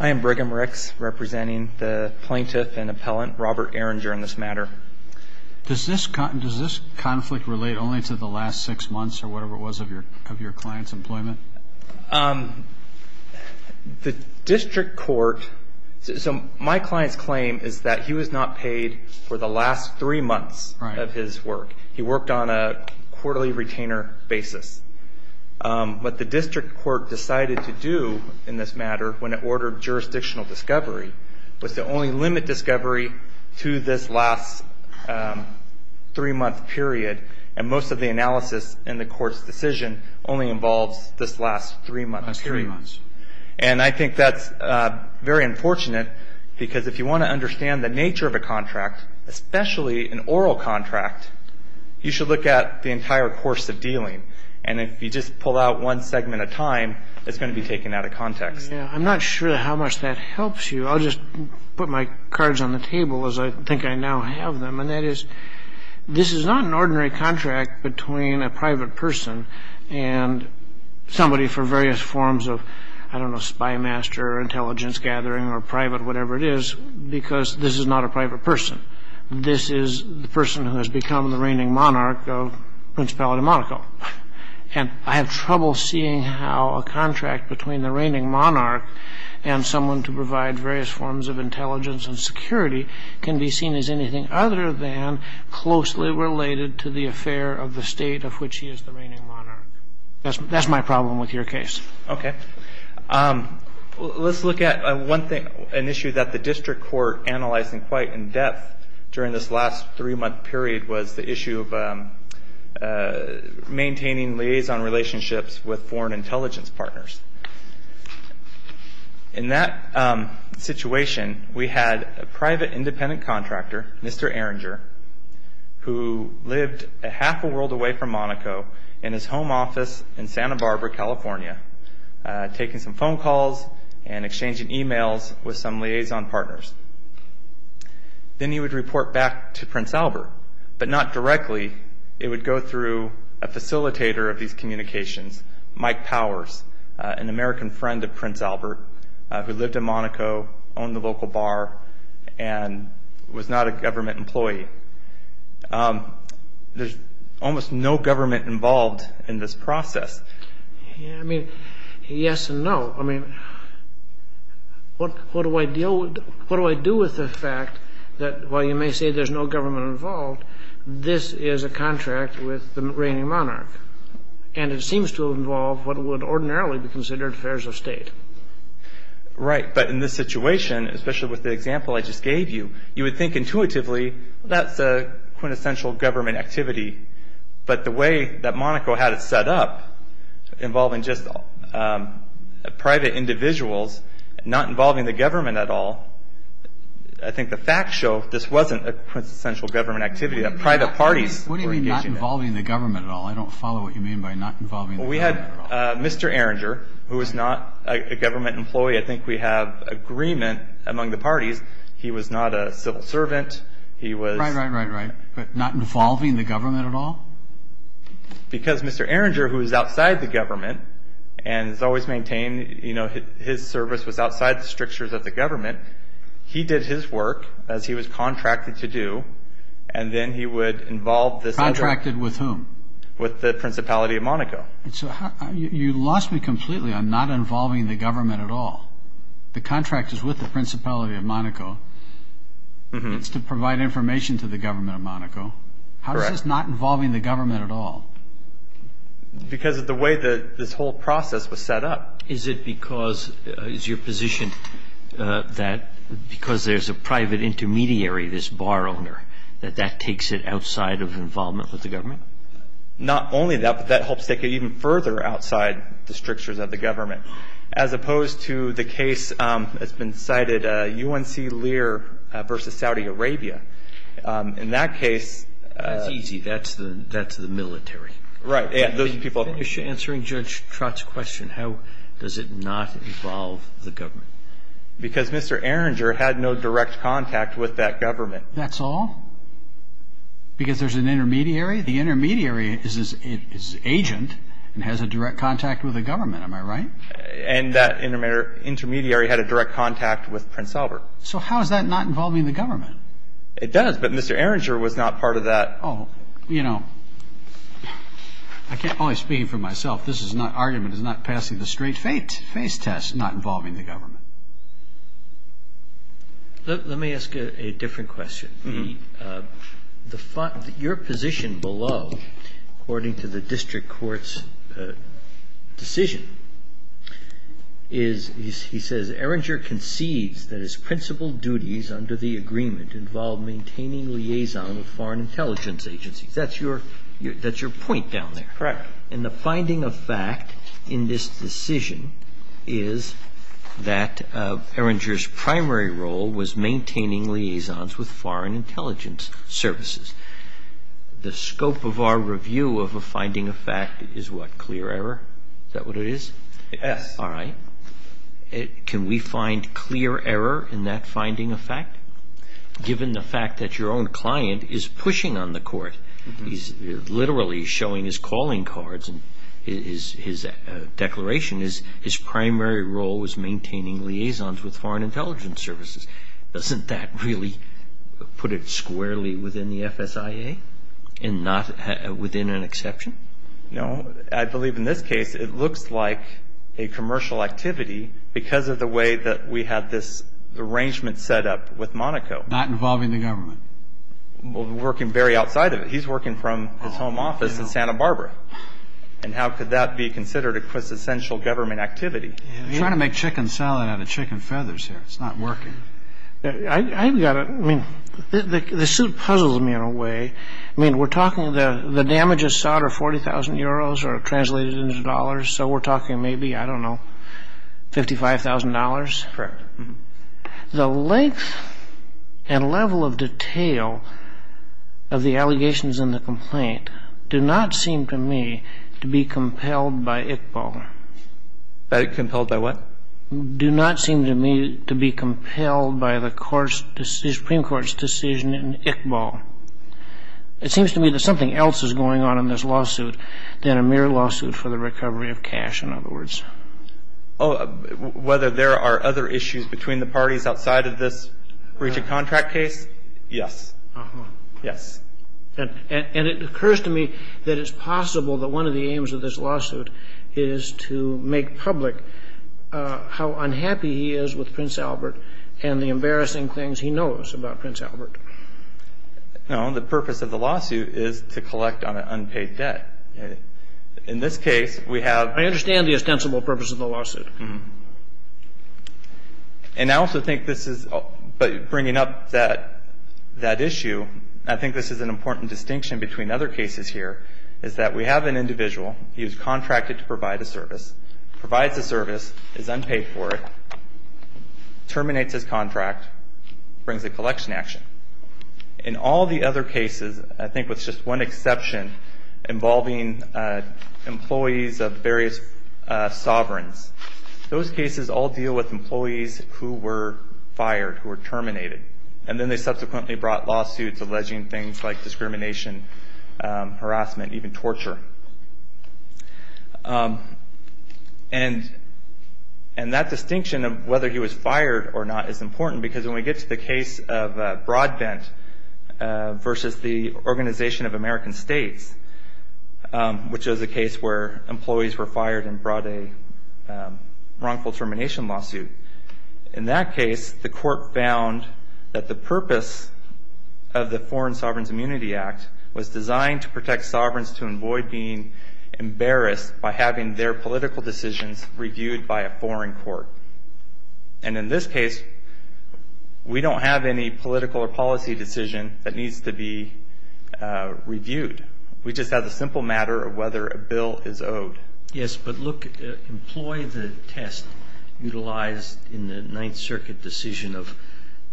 I am Brigham Ricks, representing the plaintiff and appellant Robert Eringer in this matter. Does this conflict relate only to the last six months or whatever it was of your client's employment? The district court – so my client's claim is that he was not paid for the last three months of his work. He worked on a quarterly retainer basis. What the district court decided to do in this matter when it ordered jurisdictional discovery was to only limit discovery to this last three-month period. And most of the analysis in the court's decision only involves this last three months. And I think that's very unfortunate because if you want to understand the nature of a contract, especially an oral contract, you should look at the entire course of dealing. And if you just pull out one segment at a time, it's going to be taken out of context. I'm not sure how much that helps you. I'll just put my cards on the table as I think I now have them. And that is, this is not an ordinary contract between a private person and somebody for various forms of, I don't know, spymaster, intelligence gathering, or private whatever it is, because this is not a private person. This is the person who has become the reigning monarch of Principality of Monaco. And I have trouble seeing how a contract between the reigning monarch and someone to provide various forms of intelligence and security can be seen as anything other than closely related to the affair of the state of which he is the reigning monarch. That's my problem with your case. Okay. Let's look at an issue that the district court analyzed quite in depth during this last three-month period was the issue of maintaining liaison relationships with foreign intelligence partners. In that situation, we had a private independent contractor, Mr. Erringer, who lived a half a world away from Monaco in his home office in Santa Barbara, California, taking some phone calls and exchanging e-mails with some liaison partners. Then he would report back to Prince Albert, but not directly. It would go through a facilitator of these communications, Mike Powers, an American friend of Prince Albert who lived in Monaco, owned the local bar, and was not a government employee. There's almost no government involved in this process. I mean, yes and no. I mean, what do I do with the fact that while you may say there's no government involved, this is a contract with the reigning monarch, and it seems to involve what would ordinarily be considered affairs of state. Right, but in this situation, especially with the example I just gave you, you would think intuitively that's a quintessential government activity, but the way that Monaco had it set up involving just private individuals not involving the government at all, I think the facts show this wasn't a quintessential government activity, that private parties were engaged in it. What do you mean not involving the government at all? I don't follow what you mean by not involving the government at all. We had Mr. Arringer who was not a government employee. I think we have agreement among the parties he was not a civil servant. Right, right, right, right, but not involving the government at all? Because Mr. Arringer, who was outside the government and has always maintained his service was outside the strictures of the government, he did his work as he was contracted to do, and then he would involve this other. Contracted with whom? With the Principality of Monaco. So you lost me completely on not involving the government at all. The contract is with the Principality of Monaco. It's to provide information to the government of Monaco. How is this not involving the government at all? Because of the way this whole process was set up. Is it because, is your position that because there's a private intermediary, this bar owner, that that takes it outside of involvement with the government? Not only that, but that helps take it even further outside the strictures of the government. As opposed to the case that's been cited, UNC Lear v. Saudi Arabia. In that case. That's easy, that's the military. Right. Finish answering Judge Trott's question. How does it not involve the government? Because Mr. Arringer had no direct contact with that government. That's all? Because there's an intermediary? The intermediary is an agent and has a direct contact with the government. Am I right? And that intermediary had a direct contact with Prince Albert. So how is that not involving the government? It does, but Mr. Arringer was not part of that. Oh, you know, I can't always speak for myself. This argument is not passing the straight face test, not involving the government. Let me ask a different question. Your position below, according to the district court's decision, is, he says, Arringer concedes that his principal duties under the agreement involve maintaining liaison with foreign intelligence agencies. That's your point down there. And the finding of fact in this decision is that Arringer's primary role was maintaining liaisons with foreign intelligence services. The scope of our review of a finding of fact is what? Clear error? Is that what it is? Yes. All right. Can we find clear error in that finding of fact, given the fact that your own client is pushing on the court? He's literally showing his calling cards. His declaration is his primary role was maintaining liaisons with foreign intelligence services. Doesn't that really put it squarely within the FSIA and not within an exception? No. I believe in this case it looks like a commercial activity because of the way that we had this arrangement set up with Monaco. Not involving the government. Working very outside of it. He's working from his home office in Santa Barbara. And how could that be considered a quintessential government activity? I'm trying to make chicken salad out of chicken feathers here. It's not working. The suit puzzles me in a way. I mean, we're talking the damages sought are 40,000 euros or translated into dollars, so we're talking maybe, I don't know, $55,000. Correct. The length and level of detail of the allegations in the complaint do not seem to me to be compelled by Iqbal. Compelled by what? Do not seem to me to be compelled by the Supreme Court's decision in Iqbal. It seems to me that something else is going on in this lawsuit than a mere lawsuit for the recovery of cash, in other words. Oh, whether there are other issues between the parties outside of this breach of contract case, yes. Yes. And it occurs to me that it's possible that one of the aims of this lawsuit is to make public how unhappy he is with Prince Albert and the embarrassing things he knows about Prince Albert. No, the purpose of the lawsuit is to collect on an unpaid debt. In this case, we have I understand the ostensible purpose of the lawsuit. And I also think this is bringing up that issue, I think this is an important distinction between other cases here, is that we have an individual, he was contracted to provide a service, provides a service, is unpaid for it, terminates his contract, brings a collection action. In all the other cases, I think with just one exception, involving employees of various sovereigns, those cases all deal with employees who were fired, who were terminated. And then they subsequently brought lawsuits alleging things like discrimination, harassment, even torture. And that distinction of whether he was fired or not is important because when we get to the case of Broadbent versus the Organization of American States, which is a case where employees were fired and brought a wrongful termination lawsuit. In that case, the court found that the purpose of the Foreign Sovereigns Immunity Act was designed to protect sovereigns to avoid being embarrassed by having their political decisions reviewed by a foreign court. And in this case, we don't have any political or policy decision that needs to be reviewed. We just have the simple matter of whether a bill is owed. Yes, but look, employ the test utilized in the Ninth Circuit decision of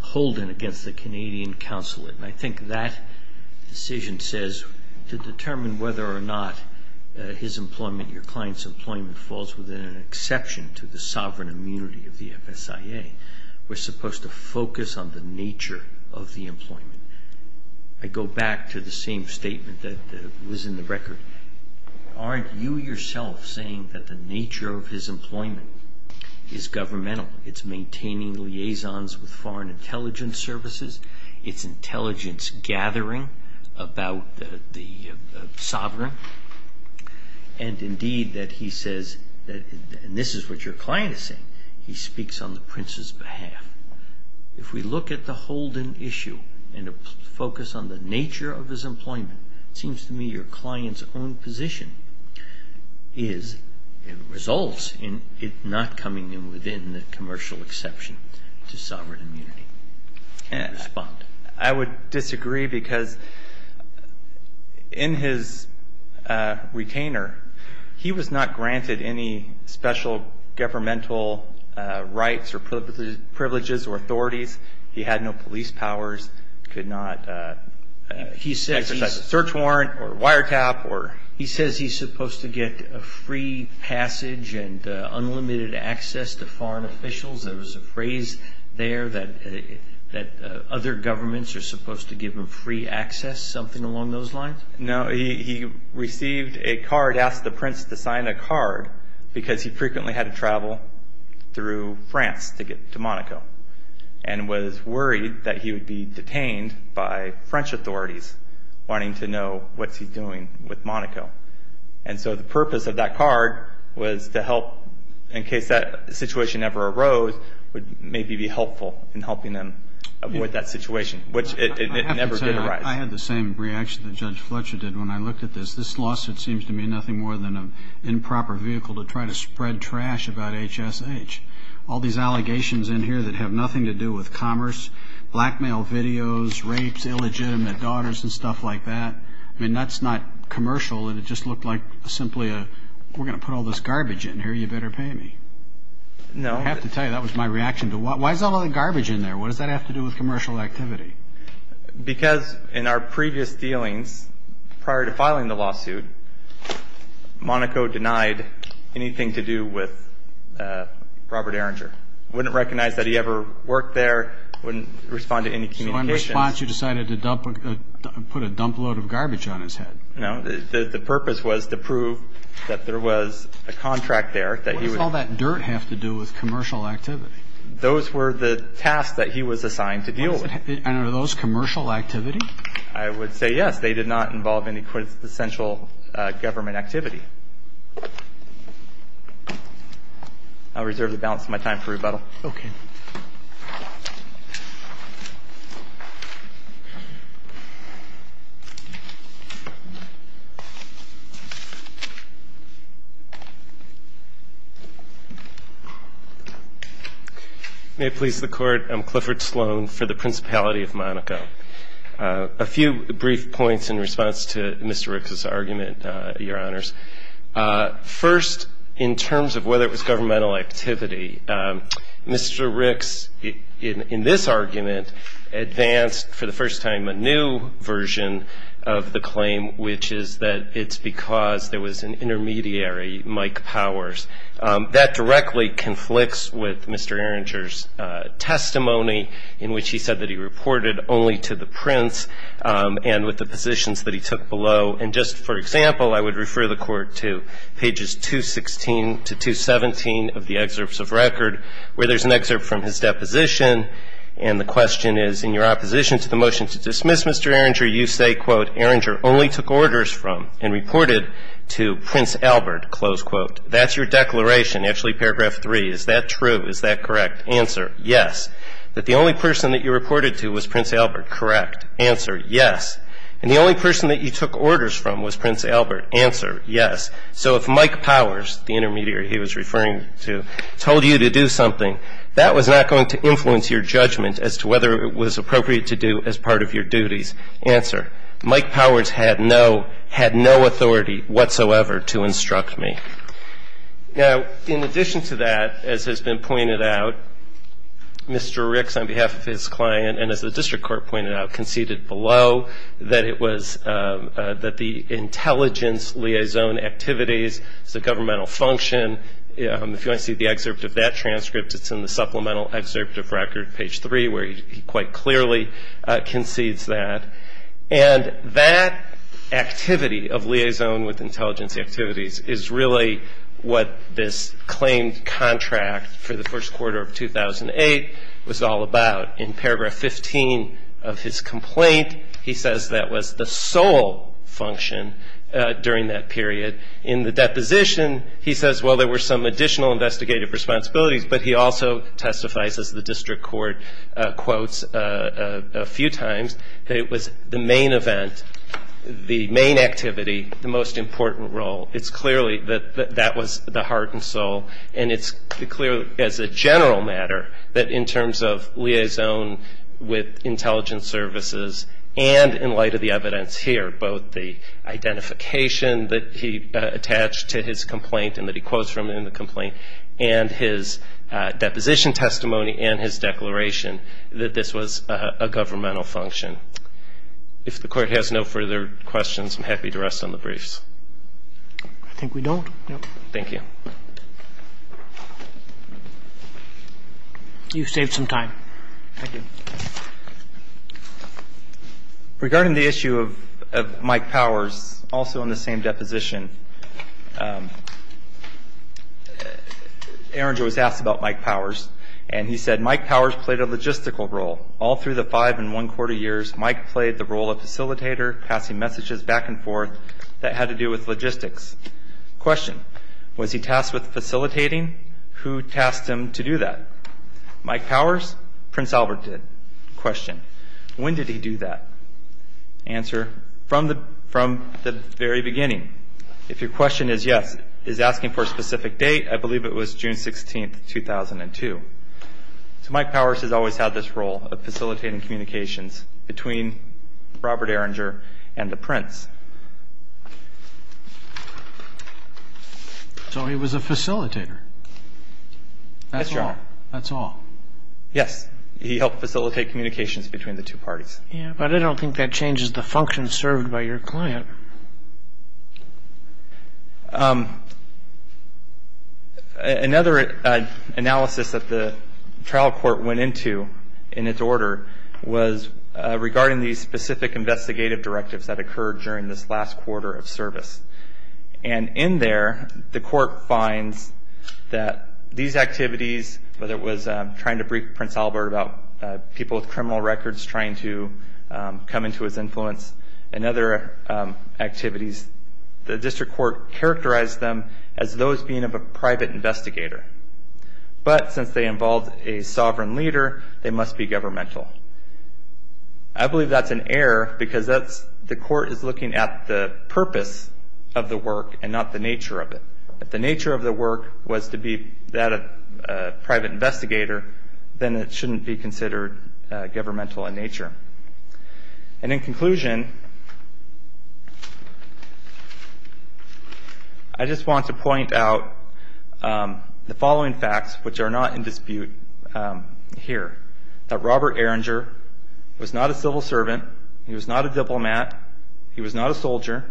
Holden against the Canadian consulate. And I think that decision says to determine whether or not his employment, your client's employment falls within an exception to the sovereign immunity of the FSIA. We're supposed to focus on the nature of the employment. I go back to the same statement that was in the record. Aren't you yourself saying that the nature of his employment is governmental? It's maintaining liaisons with foreign intelligence services. It's intelligence gathering about the sovereign. And indeed that he says that, and this is what your client is saying, he speaks on the prince's behalf. If we look at the Holden issue and focus on the nature of his employment, it seems to me your client's own position is and results in it not coming in within the commercial exception to sovereign immunity. I would disagree because in his retainer, he was not granted any special governmental rights or privileges or authorities. He had no police powers, could not exercise a search warrant or wiretap. He says he's supposed to get free passage and unlimited access to foreign officials. There was a phrase there that other governments are supposed to give him free access, something along those lines? No. He received a card, asked the prince to sign a card, because he frequently had to travel through France to get to Monaco and was worried that he would be detained by French authorities wanting to know what's he doing with Monaco. And so the purpose of that card was to help, in case that situation ever arose, would maybe be helpful in helping him avoid that situation, which it never did arise. I have to say I had the same reaction that Judge Fletcher did when I looked at this. This lawsuit seems to me nothing more than an improper vehicle to try to spread trash about HSH. All these allegations in here that have nothing to do with commerce, blackmail videos, rapes, illegitimate daughters and stuff like that, I mean, that's not commercial and it just looked like simply a, we're going to put all this garbage in here, you better pay me. No. I have to tell you, that was my reaction. Why is all that garbage in there? What does that have to do with commercial activity? Because in our previous dealings, prior to filing the lawsuit, Monaco denied anything to do with Robert Erringer. I wouldn't recognize that he ever worked there. I wouldn't respond to any communications. So in response, you decided to dump, put a dump load of garbage on his head. No. The purpose was to prove that there was a contract there that he would. What does all that dirt have to do with commercial activity? Those were the tasks that he was assigned to deal with. And are those commercial activity? I would say yes. They did not involve any quintessential government activity. I'll reserve the balance of my time for rebuttal. Okay. Thank you. May it please the Court, I'm Clifford Sloan for the Principality of Monaco. A few brief points in response to Mr. Rick's argument, Your Honors. First, in terms of whether it was governmental activity, Mr. Rick's, in this argument, advanced for the first time a new version of the claim, which is that it's because there was an intermediary, Mike Powers. That directly conflicts with Mr. Erringer's testimony, in which he said that he reported only to the prince and with the positions that he took below. And just for example, I would refer the Court to pages 216 to 217 of the excerpts of record, where there's an excerpt from his deposition, and the question is, in your opposition to the motion to dismiss Mr. Erringer, you say, quote, Erringer only took orders from and reported to Prince Albert, close quote. That's your declaration. Actually, paragraph 3, is that true? Is that correct? Answer, yes. That the only person that you reported to was Prince Albert. Correct. Answer, yes. And the only person that you took orders from was Prince Albert. Answer, yes. So if Mike Powers, the intermediary he was referring to, told you to do something, that was not going to influence your judgment as to whether it was appropriate to do as part of your duties. Answer, Mike Powers had no authority whatsoever to instruct me. Now, in addition to that, as has been pointed out, Mr. Rick's, on behalf of his client, and as the district court pointed out, conceded below that it was that the intelligence liaison activities, it's a governmental function. If you want to see the excerpt of that transcript, it's in the supplemental excerpt of record, page 3, where he quite clearly concedes that. And that activity of liaison with intelligence activities is really what this claimed contract for the first quarter of 2008 was all about. In paragraph 15 of his complaint, he says that was the sole function during that period. In the deposition, he says, well, there were some additional investigative responsibilities, but he also testifies, as the district court quotes a few times, that it was the main event, the main activity, the most important role. It's clearly that that was the heart and soul. And it's clear as a general matter that in terms of liaison with intelligence services and in light of the evidence here, both the identification that he attached to his complaint and that he quotes from in the complaint and his deposition testimony and his declaration that this was a governmental function. If the Court has no further questions, I'm happy to rest on the briefs. I think we don't. Thank you. You've saved some time. Thank you. Regarding the issue of Mike Powers, also in the same deposition, Aarons was asked about Mike Powers, and he said, Mike Powers played a logistical role all through the five and one-quarter years. Mike played the role of facilitator, passing messages back and forth that had to do with logistics. Question, was he tasked with facilitating? Who tasked him to do that? Mike Powers? Prince Albert did. Question, when did he do that? Answer, from the very beginning. If your question is, yes, is asking for a specific date, I believe it was June 16, 2002. So Mike Powers has always had this role of facilitating communications between Robert Erringer and the prince. So he was a facilitator. Yes, Your Honor. That's all. Yes. He helped facilitate communications between the two parties. But I don't think that changes the function served by your client. Another analysis that the trial court went into in its order was regarding these specific investigative directives that occurred during this last quarter of service. And in there, the court finds that these activities, whether it was trying to brief Prince Albert about people with criminal records trying to come into his influence, and other activities, the district court characterized them as those being of a private investigator. But since they involved a sovereign leader, they must be governmental. I believe that's an error because the court is looking at the purpose of the work and not the nature of it. If the nature of the work was to be that of a private investigator, then it shouldn't be considered governmental in nature. And in conclusion, I just want to point out the following facts, which are not in dispute here, that Robert Erringer was not a civil servant, he was not a diplomat, he was not a soldier,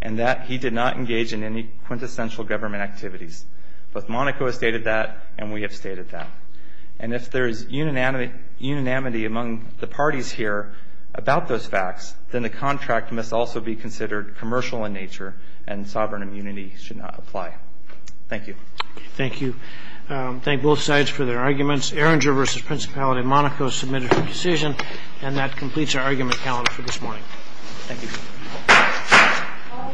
and that he did not engage in any quintessential government activities. Both Monaco has stated that, and we have stated that. And if there is unanimity among the parties here about those facts, then the contract must also be considered commercial in nature, and sovereign immunity should not apply. Thank you. Thank you. Thank both sides for their arguments. Erringer v. Principality of Monaco submitted for decision, and that completes our argument calendar for this morning. Thank you. All rise for the second hearing.